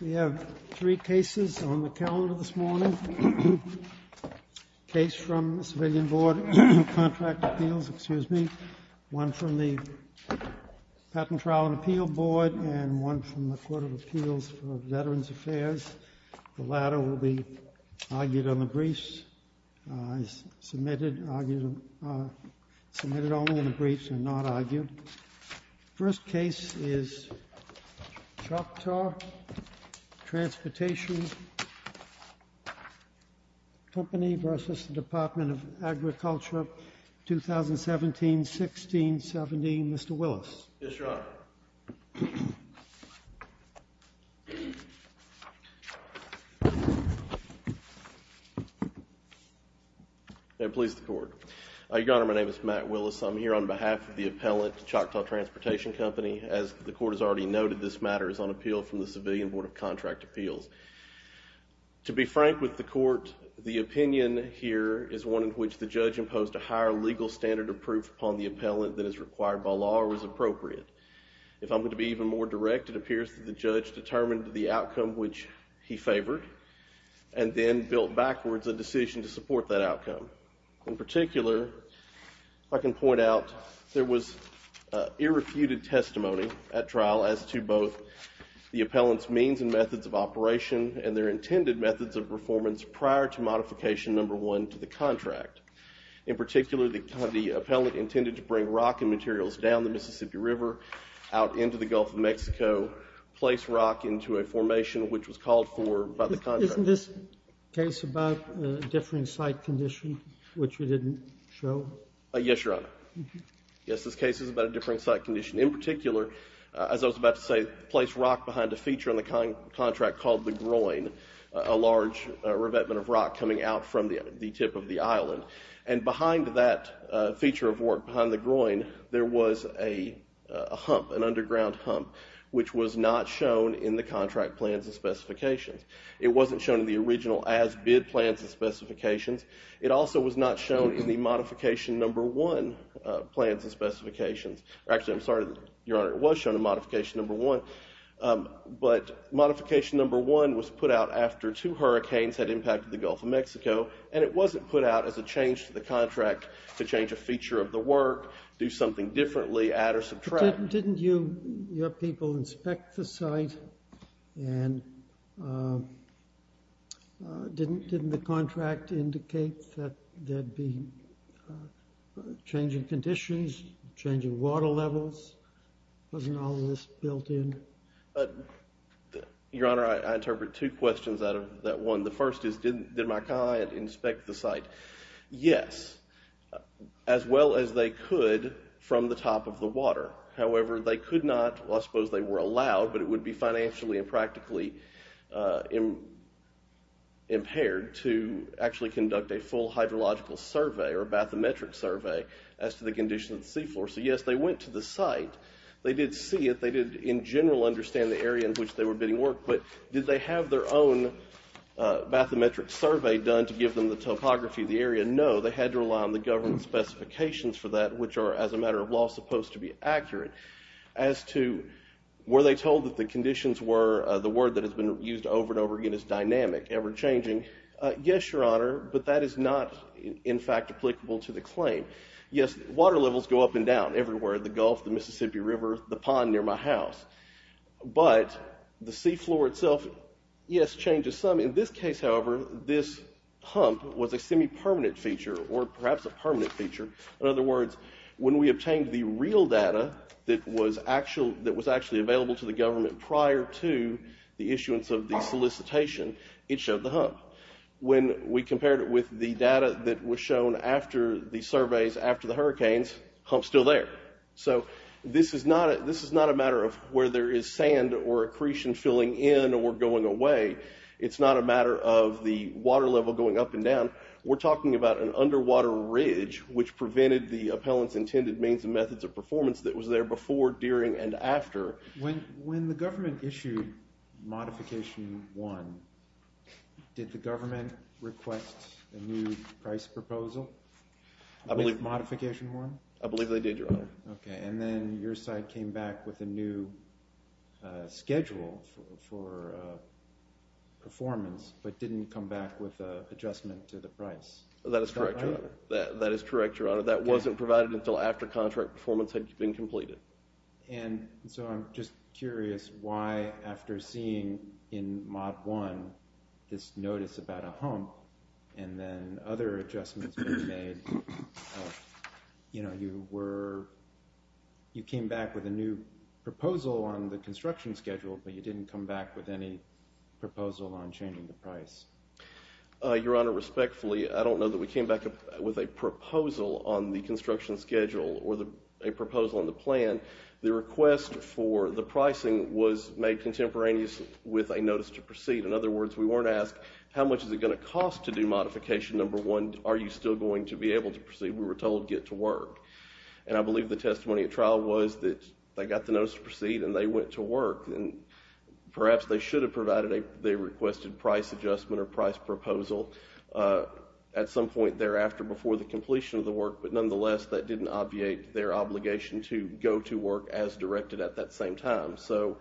We have three cases on the calendar this morning. A case from the Patent, Trial and Appeal Board and one from the Court of Appeals for Veterans Affairs. The latter will be argued on the briefs, submitted only on the briefs and not argued. First case is Choctaw Transportation Company v. Department of Agriculture, 2017-16-17. Mr. Willis. Yes, Your Honor. Your Honor, my name is Matt Willis. I'm here on behalf of the appellant, Choctaw Transportation Company. As the court has already noted, this matter is on appeal from the Civilian Board of Contract Appeals. To be frank with the court, the opinion here is one in which the judge imposed a higher legal standard of proof upon the appellant than is required by law or is appropriate. If I'm going to be even more direct, it appears that the judge determined the outcome which he favored and then built backwards a decision to support that outcome. In particular, I can point out there was irrefuted testimony at trial as to both the appellant's means and methods of operation and their intended methods of performance prior to modification number one to the contract. In particular, the appellant intended to bring rock and materials down the Mississippi River out into the Gulf of Mexico, place rock into a formation which was called for by the contract. Isn't this case about a differing site condition which you didn't show? Yes, Your Honor. Yes, this case is about a differing site condition. In particular, as I was about to say, place rock behind a feature on the contract called the groin, a large revetment of rock coming out from the tip of the island. And behind that feature of work, behind the groin, there was a hump, an underground hump, which was not shown in the contract plans and specifications. It wasn't shown in the original as-bid plans and specifications. It also was not shown in the modification number one plans and specifications. Actually, I'm sorry, Your Honor, it was shown in modification number one, but modification number one was put out after two hurricanes had impacted the Gulf of Mexico, and it wasn't put out as a change to the contract to change a feature of the work, do something differently, add or subtract. Didn't your people inspect the site, and didn't the contract indicate that there'd be changing conditions, changing water levels? Wasn't all of this built in? Your Honor, I interpret two questions out of that one. The first is, did my client inspect the site? Yes, as well as they could from the top of the water. However, they could not, well, I suppose they were allowed, but it would be financially and practically impaired to actually conduct a full hydrological survey or bathymetric survey as to the condition of the seafloor. So, yes, they went to the site. They did see it. They did, in general, understand the area in which they were bidding work. But did they have their own bathymetric survey done to give them the topography of the area? No. They had to rely on the government specifications for that, which are, as a matter of law, supposed to be accurate. As to were they told that the conditions were, the word that has been used over and over again is dynamic, ever-changing. Yes, Your Honor, but that is not, in fact, applicable to the claim. Yes, water levels go up and down everywhere, the Gulf, the Mississippi River, the pond near my house. But the seafloor itself, yes, changes some. In this case, however, this hump was a semi-permanent feature or perhaps a permanent feature. In other words, when we obtained the real data that was actually available to the government prior to the issuance of the solicitation, it showed the hump. When we compared it with the data that was shown after the surveys after the hurricanes, hump's still there. So this is not a matter of where there is sand or accretion filling in or going away. It's not a matter of the water level going up and down. We're talking about an underwater ridge which prevented the appellant's intended means and methods of performance that was there before, during, and after. When the government issued Modification 1, did the government request a new price proposal with Modification 1? I believe they did, Your Honor. Okay, and then your side came back with a new schedule for performance but didn't come back with an adjustment to the price. That is correct, Your Honor. That is correct, Your Honor. That wasn't provided until after contract performance had been completed. So I'm just curious why after seeing in Mod 1 this notice about a hump and then other adjustments being made, you came back with a new proposal on the construction schedule but you didn't come back with any proposal on changing the price. Your Honor, respectfully, I don't know that we came back with a proposal on the construction schedule or a proposal on the plan. The request for the pricing was made contemporaneous with a notice to proceed. In other words, we weren't asked how much is it going to cost to do Modification 1? Are you still going to be able to proceed? We were told get to work. And I believe the testimony at trial was that they got the notice to proceed and they went to work. And perhaps they should have provided a requested price adjustment or price proposal at some point thereafter before the completion of the work. But nonetheless, that didn't obviate their obligation to go to work as directed at that same time. So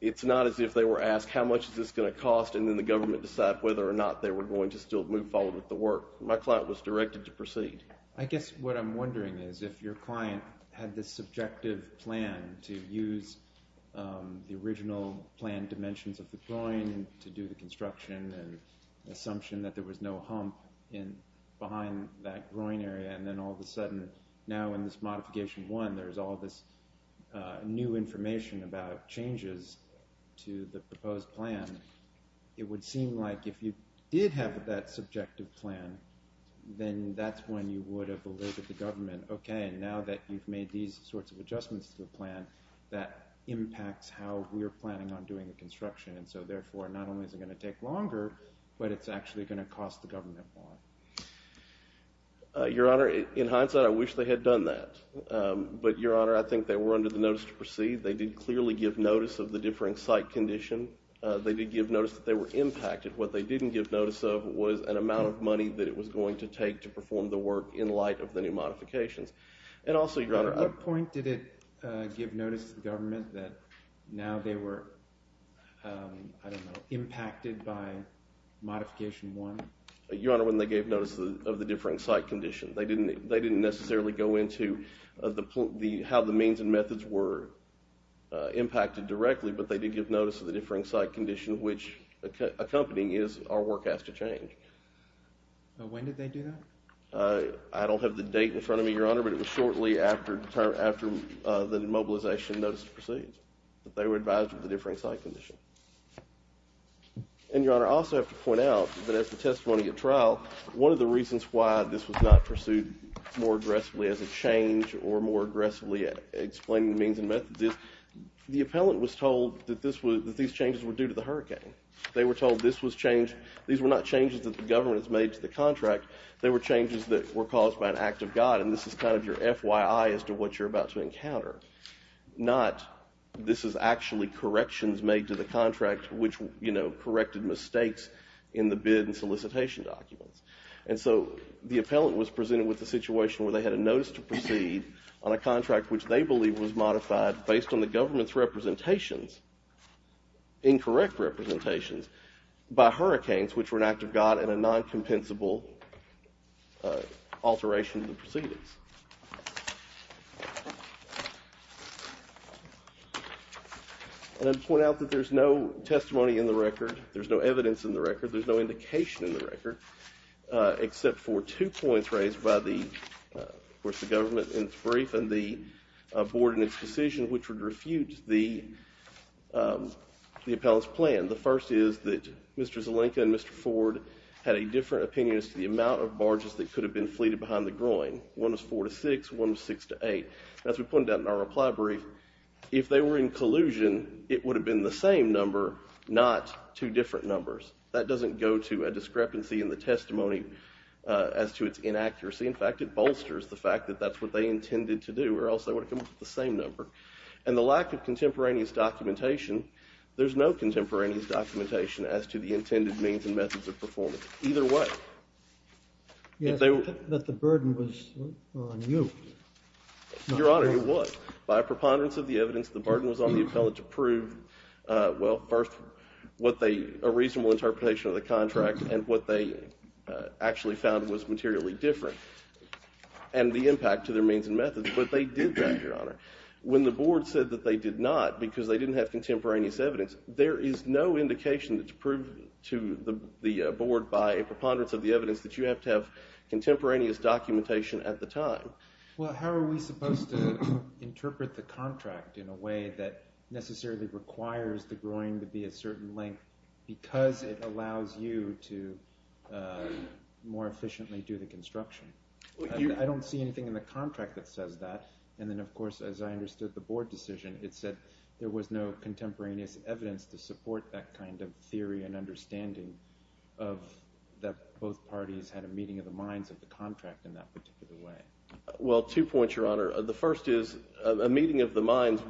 it's not as if they were asked how much is this going to cost and then the government decide whether or not they were going to still move forward with the work. My client was directed to proceed. I guess what I'm wondering is if your client had this subjective plan to use the original plan dimensions of the groin to do the construction and assumption that there was no hump behind that groin area. And then all of a sudden, now in this Modification 1, there's all this new information about changes to the proposed plan. It would seem like if you did have that subjective plan, then that's when you would have alerted the government. Okay, now that you've made these sorts of adjustments to the plan, that impacts how we're planning on doing the construction. And so therefore, not only is it going to take longer, but it's actually going to cost the government more. Your Honor, in hindsight, I wish they had done that. But, Your Honor, I think they were under the notice to proceed. They did clearly give notice of the differing site condition. They did give notice that they were impacted. What they didn't give notice of was an amount of money that it was going to take to perform the work in light of the new modifications. And also, Your Honor— At what point did it give notice to the government that now they were, I don't know, impacted by Modification 1? Your Honor, when they gave notice of the differing site condition. They didn't necessarily go into how the means and methods were impacted directly, but they did give notice of the differing site condition, which accompanying is our work has to change. When did they do that? I don't have the date in front of me, Your Honor, but it was shortly after the mobilization notice to proceed. They were advised of the differing site condition. And, Your Honor, I also have to point out that as the testimony at trial, one of the reasons why this was not pursued more aggressively as a change or more aggressively explaining the means and methods is the appellant was told that these changes were due to the hurricane. They were told these were not changes that the government has made to the contract. They were changes that were caused by an act of God, and this is kind of your FYI as to what you're about to encounter. Not this is actually corrections made to the contract, which, you know, corrected mistakes in the bid and solicitation documents. And so the appellant was presented with a situation where they had a notice to proceed on a contract, which they believe was modified based on the government's representations, incorrect representations, by hurricanes, which were an act of God and a non-compensable alteration of the proceedings. And I'd point out that there's no testimony in the record, there's no evidence in the record, there's no indication in the record except for two points raised by the, of course, the government in its brief and the board in its decision, which would refute the appellant's plan. The first is that Mr. Zelenka and Mr. Ford had a different opinion as to the amount of barges that could have been fleeted behind the groin. One was four to six, one was six to eight. As we pointed out in our reply brief, if they were in collusion, it would have been the same number, not two different numbers. That doesn't go to a discrepancy in the testimony as to its inaccuracy. In fact, it bolsters the fact that that's what they intended to do or else they would have come up with the same number. And the lack of contemporaneous documentation, there's no contemporaneous documentation as to the intended means and methods of performance. Either way. Yes, but the burden was on you. Your Honor, it was. By a preponderance of the evidence, the burden was on the appellant to prove, well, first, what they, a reasonable interpretation of the contract and what they actually found was materially different and the impact to their means and methods, but they did that, Your Honor. When the board said that they did not because they didn't have contemporaneous evidence, there is no indication to prove to the board by a preponderance of the evidence that you have to have contemporaneous documentation at the time. Well, how are we supposed to interpret the contract in a way that necessarily requires the groin to be a certain length because it allows you to more efficiently do the construction? I don't see anything in the contract that says that. And then, of course, as I understood the board decision, it said there was no contemporaneous evidence to support that kind of theory and understanding of that both parties had a meeting of the minds of the contract in that particular way. Well, two points, Your Honor. The first is a meeting of the minds.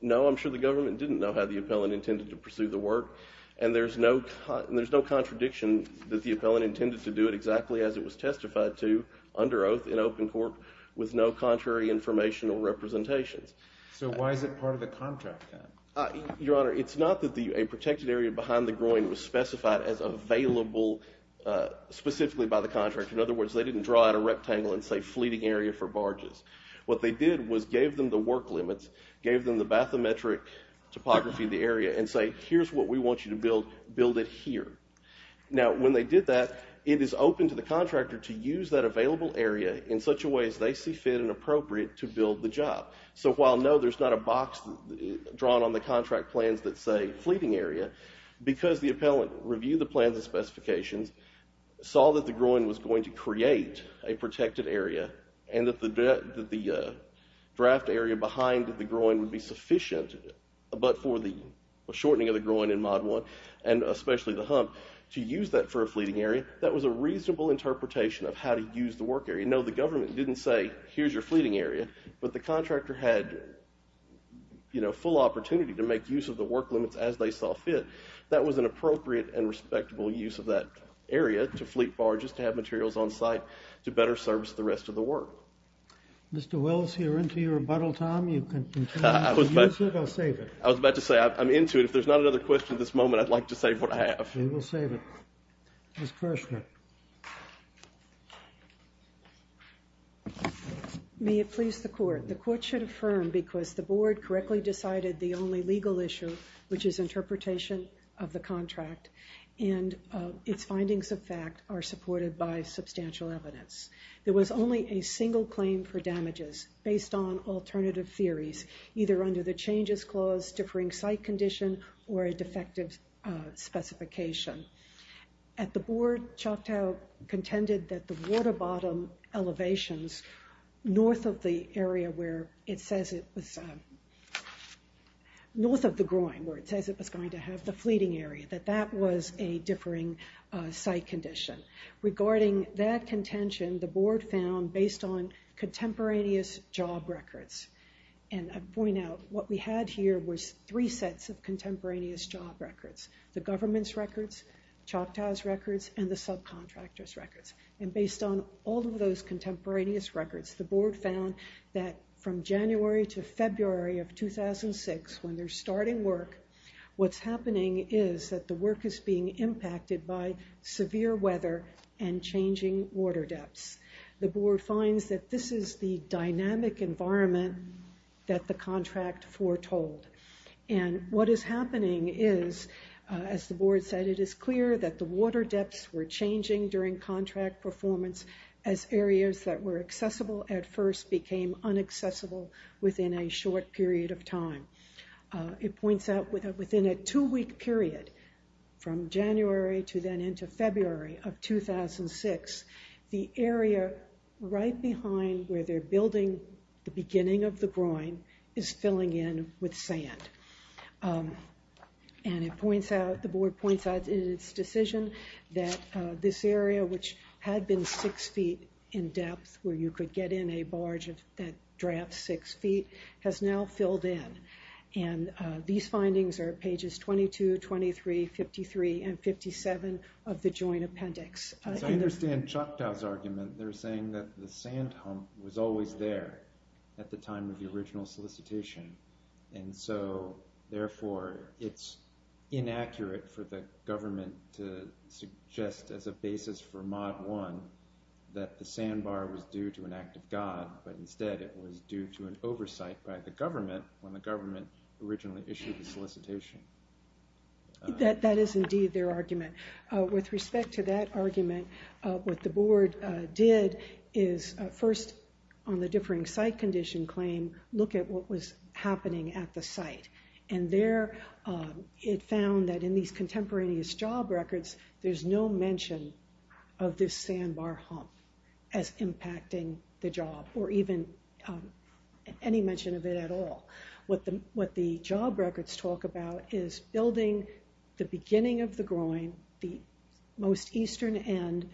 No, I'm sure the government didn't know how the appellant intended to pursue the work, and there's no contradiction that the appellant intended to do it exactly as it was testified to under oath in open court with no contrary information or representations. So why is it part of the contract? Your Honor, it's not that a protected area behind the groin was specified as available specifically by the contractor. In other words, they didn't draw out a rectangle and say fleeting area for barges. What they did was gave them the work limits, gave them the bathymetric topography of the area, and say, here's what we want you to build. Build it here. Now, when they did that, it is open to the contractor to use that available area in such a way as they see fit and appropriate to build the job. So while, no, there's not a box drawn on the contract plans that say fleeting area, because the appellant reviewed the plans and specifications, saw that the groin was going to create a protected area and that the draft area behind the groin would be sufficient but for the shortening of the groin in Mod 1, and especially the hump, to use that for a fleeting area, that was a reasonable interpretation of how to use the work area. No, the government didn't say, here's your fleeting area. But the contractor had, you know, full opportunity to make use of the work limits as they saw fit. That was an appropriate and respectable use of that area to fleet barges, to have materials on site to better service the rest of the work. Mr. Wells, you're into your rebuttal time. You can continue to use it or save it. I was about to say, I'm into it. If there's not another question at this moment, I'd like to save what I have. Then we'll save it. Ms. Kirshner. May it please the court. The court should affirm because the board correctly decided the only legal issue, which is interpretation of the contract, and its findings of fact are supported by substantial evidence. There was only a single claim for damages based on alternative theories, either under the changes clause, differing site condition, or a defective specification. At the board, Choctaw contended that the water bottom elevations north of the area where it says it was going to have the fleeting area, that that was a differing site condition. Regarding that contention, the board found, based on contemporaneous job records and I point out, what we had here was three sets of contemporaneous job records. The government's records, Choctaw's records, and the subcontractor's records. Based on all of those contemporaneous records, the board found that from January to February of 2006, when they're starting work, what's happening is that the work is being impacted by severe weather and changing water depths. The board finds that this is the dynamic environment that the contract foretold. And what is happening is, as the board said, it is clear that the water depths were changing during contract performance as areas that were accessible at first became unaccessible within a short period of time. It points out that within a two-week period, from January to then into February of 2006, the area right behind where they're building the beginning of the groin is filling in with sand. And the board points out in its decision that this area, which had been six feet in depth, where you could get in a barge that drafts six feet, has now filled in. And these findings are pages 22, 23, 53, and 57 of the joint appendix. As I understand Choctaw's argument, they're saying that the sand hump was always there at the time of the original solicitation. And so, therefore, it's inaccurate for the government to suggest as a basis for Mod 1 that the sandbar was due to an act of God, but instead it was due to an oversight by the government when the government originally issued the solicitation. That is indeed their argument. With respect to that argument, what the board did is first, on the differing site condition claim, look at what was happening at the site. And there it found that in these contemporaneous job records, there's no mention of this sandbar hump as impacting the job, or even any mention of it at all. What the job records talk about is building the beginning of the groin, the most eastern end,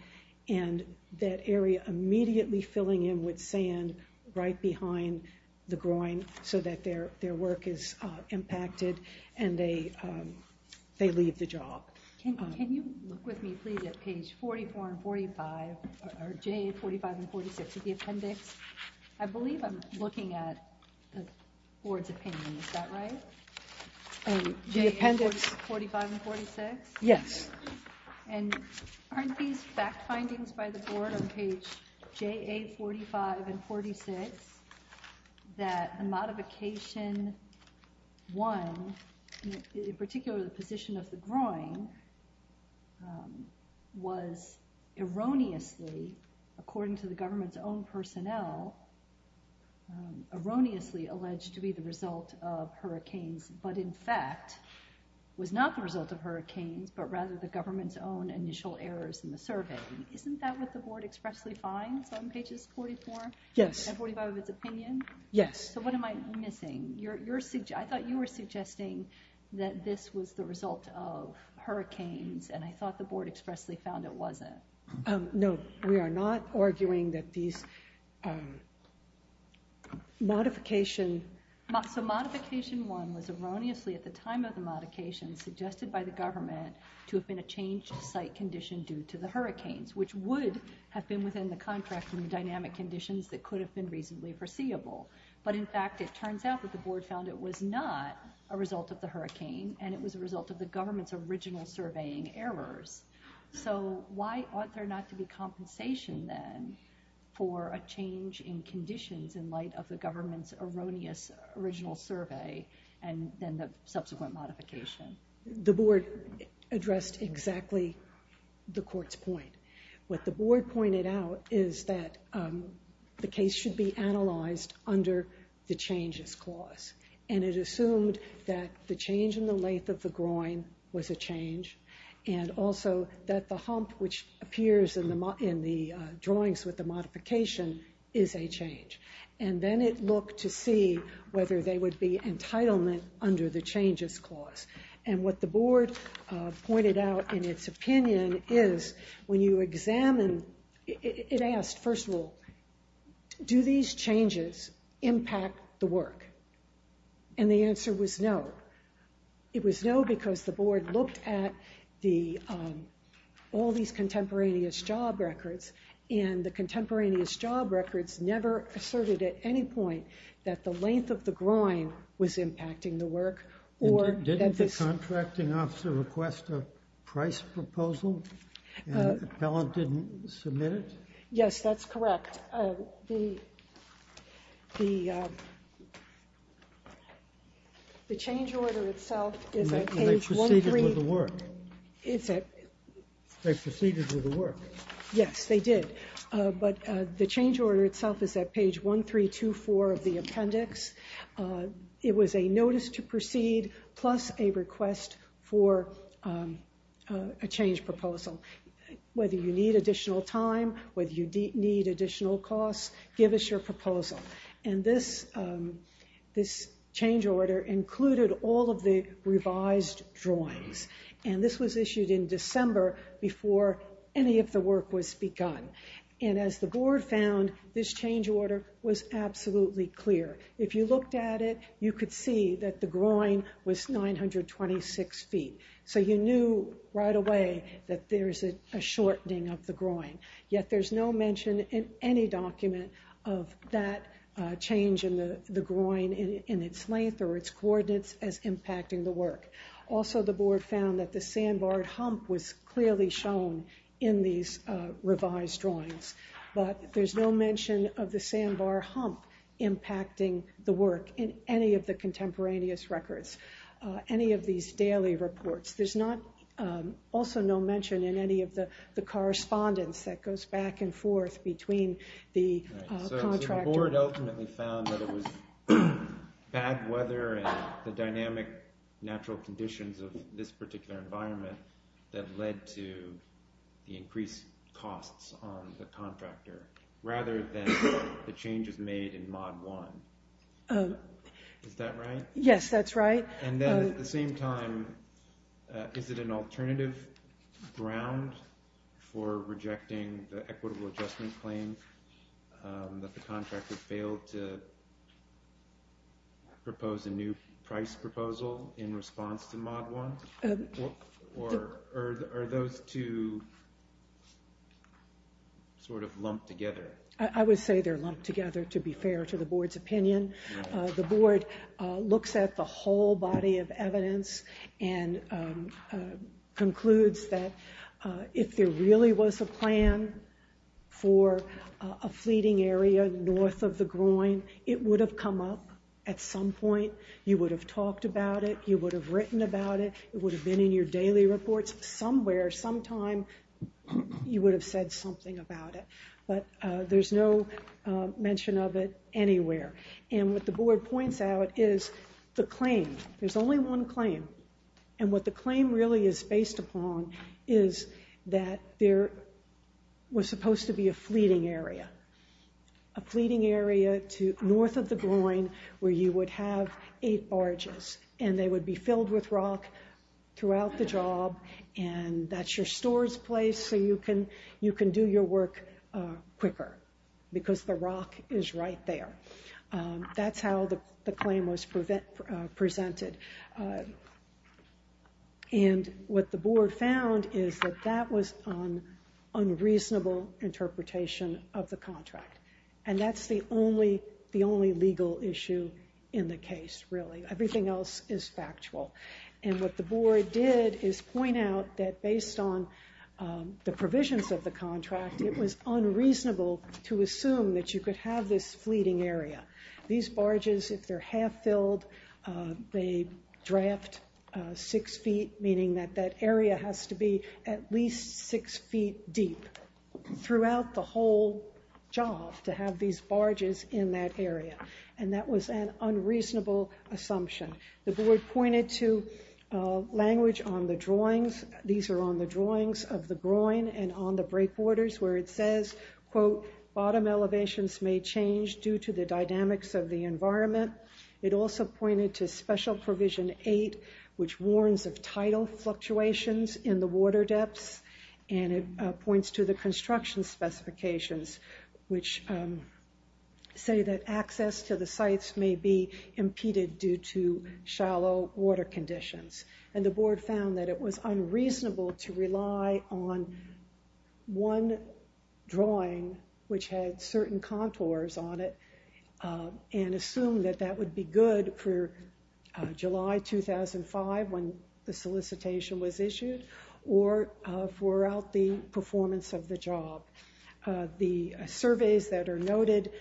and that area immediately filling in with sand right behind the groin so that their work is impacted and they leave the job. Can you look with me please at page 44 and 45, or J45 and 46 of the appendix? I believe I'm looking at the board's opinion, is that right? J45 and 46? Yes. And aren't these fact findings by the board on page JA45 and 46 that the modification 1, in particular the position of the groin, was erroneously, according to the government's own personnel, erroneously alleged to be the result of hurricanes, but in fact was not the result of hurricanes, but rather the government's own initial errors in the survey? Isn't that what the board expressly finds on pages 44 and 45 of its opinion? Yes. So what am I missing? I thought you were suggesting that this was the result of hurricanes, and I thought the board expressly found it wasn't. No, we are not arguing that these modification... to have been a changed site condition due to the hurricanes, which would have been within the contracting dynamic conditions that could have been reasonably foreseeable. But in fact, it turns out that the board found it was not a result of the hurricane, and it was a result of the government's original surveying errors. So why ought there not to be compensation then for a change in conditions in light of the government's erroneous original survey and then the subsequent modification? The board addressed exactly the court's point. What the board pointed out is that the case should be analyzed under the changes clause, and it assumed that the change in the length of the groin was a change, and also that the hump, which appears in the drawings with the modification, is a change. And then it looked to see whether there would be entitlement under the changes clause. And what the board pointed out in its opinion is when you examine... it asked, first of all, do these changes impact the work? And the answer was no. It was no because the board looked at all these contemporaneous job records, and the contemporaneous job records never asserted at any point that the length of the groin was impacting the work or that this... Didn't the contracting officer request a price proposal and the appellant didn't submit it? Yes, that's correct. The change order itself is on page 13... And they proceeded with the work. Is it? They proceeded with the work. Yes, they did. But the change order itself is at page 1324 of the appendix. It was a notice to proceed plus a request for a change proposal. Whether you need additional time, whether you need additional costs, give us your proposal. And this change order included all of the revised drawings, and this was issued in December before any of the work was begun. And as the board found, this change order was absolutely clear. If you looked at it, you could see that the groin was 926 feet. So you knew right away that there's a shortening of the groin. Yet there's no mention in any document of that change in the groin in its length or its coordinates as impacting the work. Also, the board found that the sandbar hump was clearly shown in these revised drawings. But there's no mention of the sandbar hump impacting the work in any of the contemporaneous records, any of these daily reports. There's also no mention in any of the correspondence that goes back and forth between the contractor... natural conditions of this particular environment that led to the increased costs on the contractor, rather than the changes made in Mod 1. Is that right? Yes, that's right. And then at the same time, is it an alternative ground for rejecting the equitable adjustment claim that the contractor failed to propose a new price proposal in response to Mod 1? Or are those two sort of lumped together? I would say they're lumped together, to be fair to the board's opinion. The board looks at the whole body of evidence and concludes that if there really was a plan for a fleeting area north of the groin, it would have come up at some point. You would have talked about it. You would have written about it. It would have been in your daily reports. Somewhere, sometime, you would have said something about it. But there's no mention of it anywhere. And what the board points out is the claim. There's only one claim. And what the claim really is based upon is that there was supposed to be a fleeting area. A fleeting area north of the groin where you would have eight barges, and they would be filled with rock throughout the job, and that's your store's place so you can do your work quicker because the rock is right there. That's how the claim was presented. And what the board found is that that was an unreasonable interpretation of the contract, and that's the only legal issue in the case, really. Everything else is factual. And what the board did is point out that based on the provisions of the contract, it was unreasonable to assume that you could have this fleeting area. These barges, if they're half-filled, they draft six feet, meaning that that area has to be at least six feet deep throughout the whole job to have these barges in that area. And that was an unreasonable assumption. The board pointed to language on the drawings. These are on the drawings of the groin and on the breakwaters where it says, quote, bottom elevations may change due to the dynamics of the environment. It also pointed to Special Provision 8, which warns of tidal fluctuations in the water depths, and it points to the construction specifications, which say that access to the sites may be impeded due to shallow water conditions. And the board found that it was unreasonable to rely on one drawing which had certain contours on it and assume that that would be good for July 2005 when the solicitation was issued or throughout the performance of the job. The surveys that are noted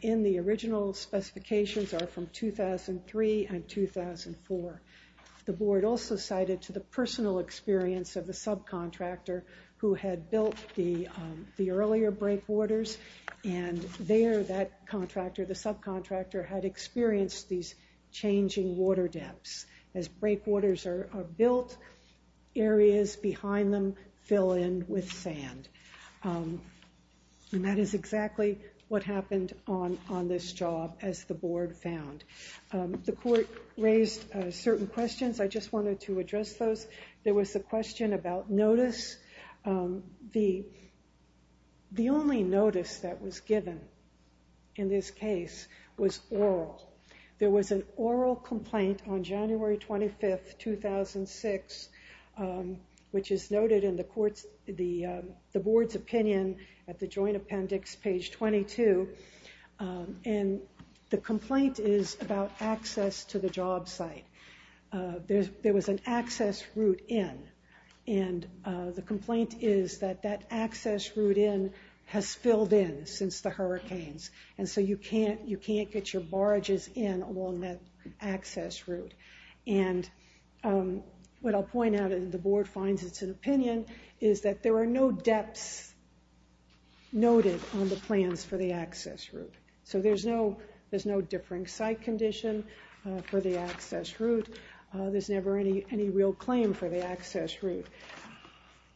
in the original specifications are from 2003 and 2004. The board also cited to the personal experience of the subcontractor who had built the earlier breakwaters, and there that contractor, the subcontractor, had experienced these changing water depths. As breakwaters are built, areas behind them fill in with sand. And that is exactly what happened on this job, as the board found. The court raised certain questions. I just wanted to address those. There was a question about notice. The only notice that was given in this case was oral. There was an oral complaint on January 25, 2006, which is noted in the board's opinion at the joint appendix, page 22. And the complaint is about access to the job site. There was an access route in. And the complaint is that that access route in has filled in since the hurricanes, and so you can't get your barges in along that access route. And what I'll point out, and the board finds it's an opinion, is that there are no depths noted on the plans for the access route. So there's no differing site condition for the access route. There's never any real claim for the access route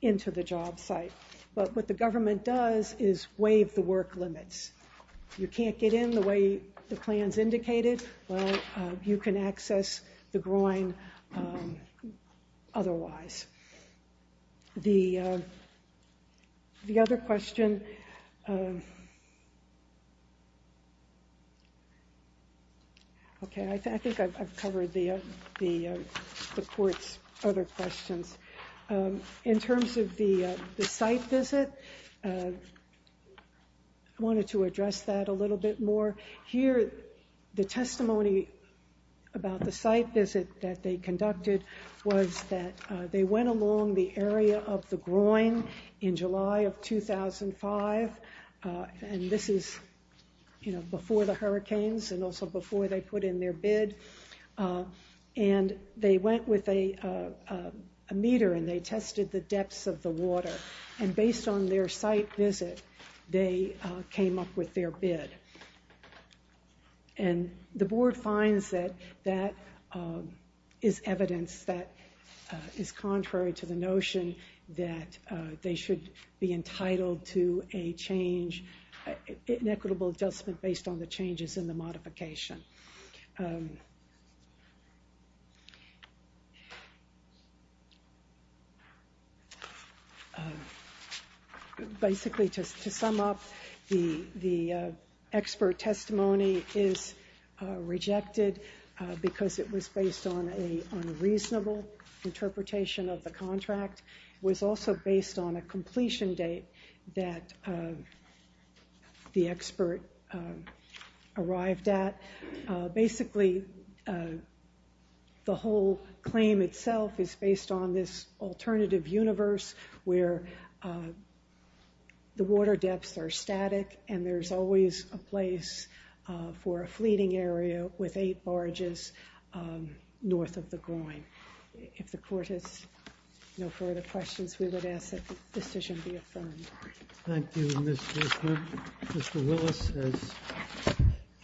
into the job site. But what the government does is waive the work limits. You can't get in the way the plan's indicated. Well, you can access the groin otherwise. The other question. Okay, I think I've covered the court's other questions. In terms of the site visit, I wanted to address that a little bit more. Here, the testimony about the site visit that they conducted was that they went along the area of the groin in July of 2005, and this is before the hurricanes and also before they put in their bid. And they went with a meter, and they tested the depths of the water. And based on their site visit, they came up with their bid. And the board finds that that is evidence that is contrary to the notion that they should be entitled to a change, an equitable adjustment based on the changes in the modification. Basically, to sum up, the expert testimony is rejected because it was based on a unreasonable interpretation of the contract. It was also based on a completion date that the expert arrived at. Basically, the whole claim itself is based on this alternative universe where the water depths are static, and there's always a place for a fleeting area with eight barges north of the groin. If the court has no further questions, we would ask that the decision be affirmed. Thank you, Ms. Bishop. Mr. Willis has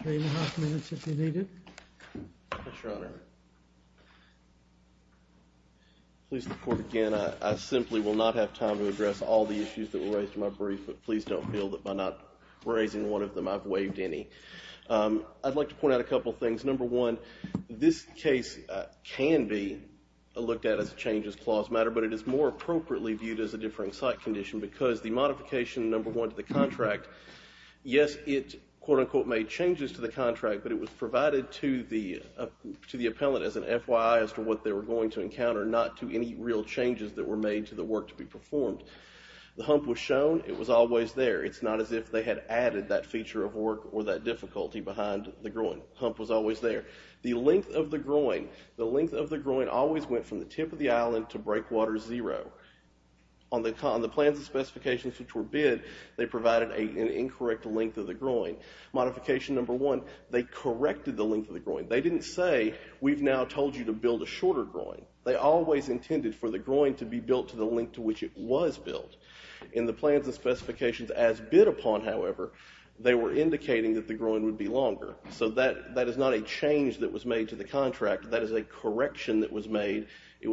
three and a half minutes if you need it. Yes, Your Honor. Please, the court, again, I simply will not have time to address all the issues that were raised in my brief, but please don't feel that by not raising one of them I've waived any. I'd like to point out a couple of things. Number one, this case can be looked at as a changes clause matter, but it is more appropriately viewed as a differing site condition because the modification, number one, to the contract, yes, it quote-unquote made changes to the contract, but it was provided to the appellant as an FYI as to what they were going to encounter, not to any real changes that were made to the work to be performed. The hump was shown. It was always there. It's not as if they had added that feature of work or that difficulty behind the groin. The hump was always there. The length of the groin, the length of the groin always went from the tip of the island to breakwater zero. On the plans and specifications which were bid, they provided an incorrect length of the groin. Modification number one, they corrected the length of the groin. They didn't say we've now told you to build a shorter groin. They always intended for the groin to be built to the length to which it was built. In the plans and specifications as bid upon, however, they were indicating that the groin would be longer. So that is not a change that was made to the contract. That is a correction that was made. It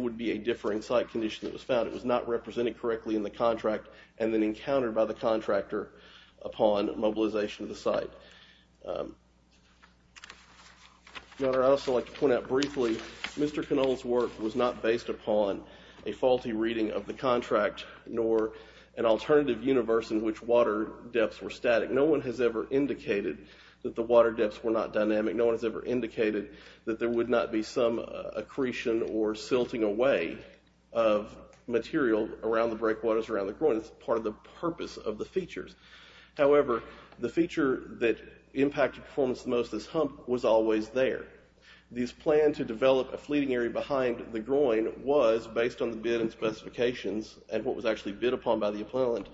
would be a differing site condition that was found. It was not represented correctly in the contract and then encountered by the contractor upon mobilization of the site. Your Honor, I'd also like to point out briefly, Mr. Canole's work was not based upon a faulty reading of the contract nor an alternative universe in which water depths were static. No one has ever indicated that the water depths were not dynamic. No one has ever indicated that there would not be some accretion or silting away of material around the breakwaters around the groin. It's part of the purpose of the features. However, the feature that impacted performance the most as hump was always there. This plan to develop a fleeting area behind the groin was, based on the bid and specifications and what was actually bid upon by the appellant,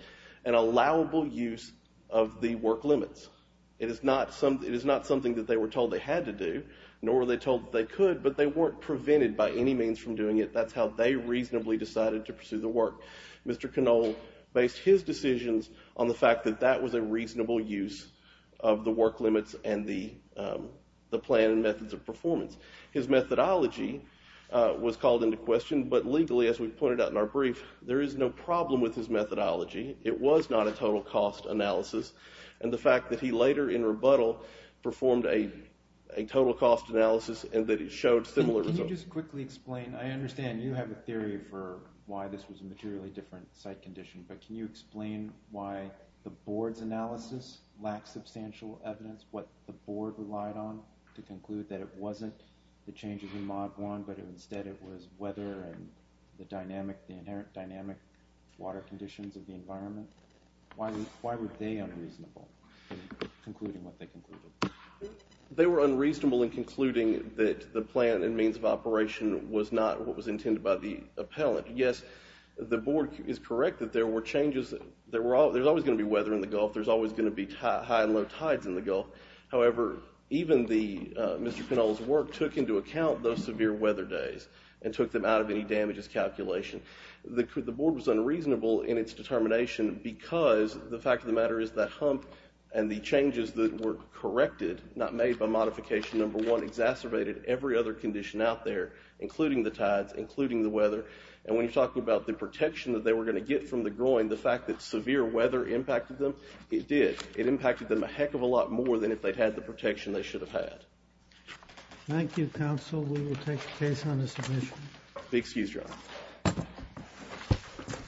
an allowable use of the work limits. It is not something that they were told they had to do, nor were they told that they could, but they weren't prevented by any means from doing it. That's how they reasonably decided to pursue the work. Mr. Canole based his decisions on the fact that that was a reasonable use of the work limits and the plan and methods of performance. His methodology was called into question, but legally, as we've pointed out in our brief, there is no problem with his methodology. It was not a total cost analysis, and the fact that he later, in rebuttal, performed a total cost analysis and that it showed similar results. Can you just quickly explain? I understand you have a theory for why this was a materially different site condition, but can you explain why the board's analysis lacked substantial evidence, what the board relied on to conclude that it wasn't the changes in Maguan, but instead it was weather and the dynamic water conditions of the environment? Why were they unreasonable in concluding what they concluded? They were unreasonable in concluding that the plan and means of operation was not what was intended by the appellant. Yes, the board is correct that there were changes. There's always going to be weather in the Gulf. There's always going to be high and low tides in the Gulf. However, even Mr. Pinal's work took into account those severe weather days and took them out of any damages calculation. The board was unreasonable in its determination because the fact of the matter is that hump and the changes that were corrected, not made by modification number one, exacerbated every other condition out there, including the tides, including the weather. And when you're talking about the protection that they were going to get from the groin, the fact that severe weather impacted them, it did. It impacted them a heck of a lot more than if they'd had the protection they should have had. Thank you, counsel. We will take the case on the submission. Be excused, Your Honor.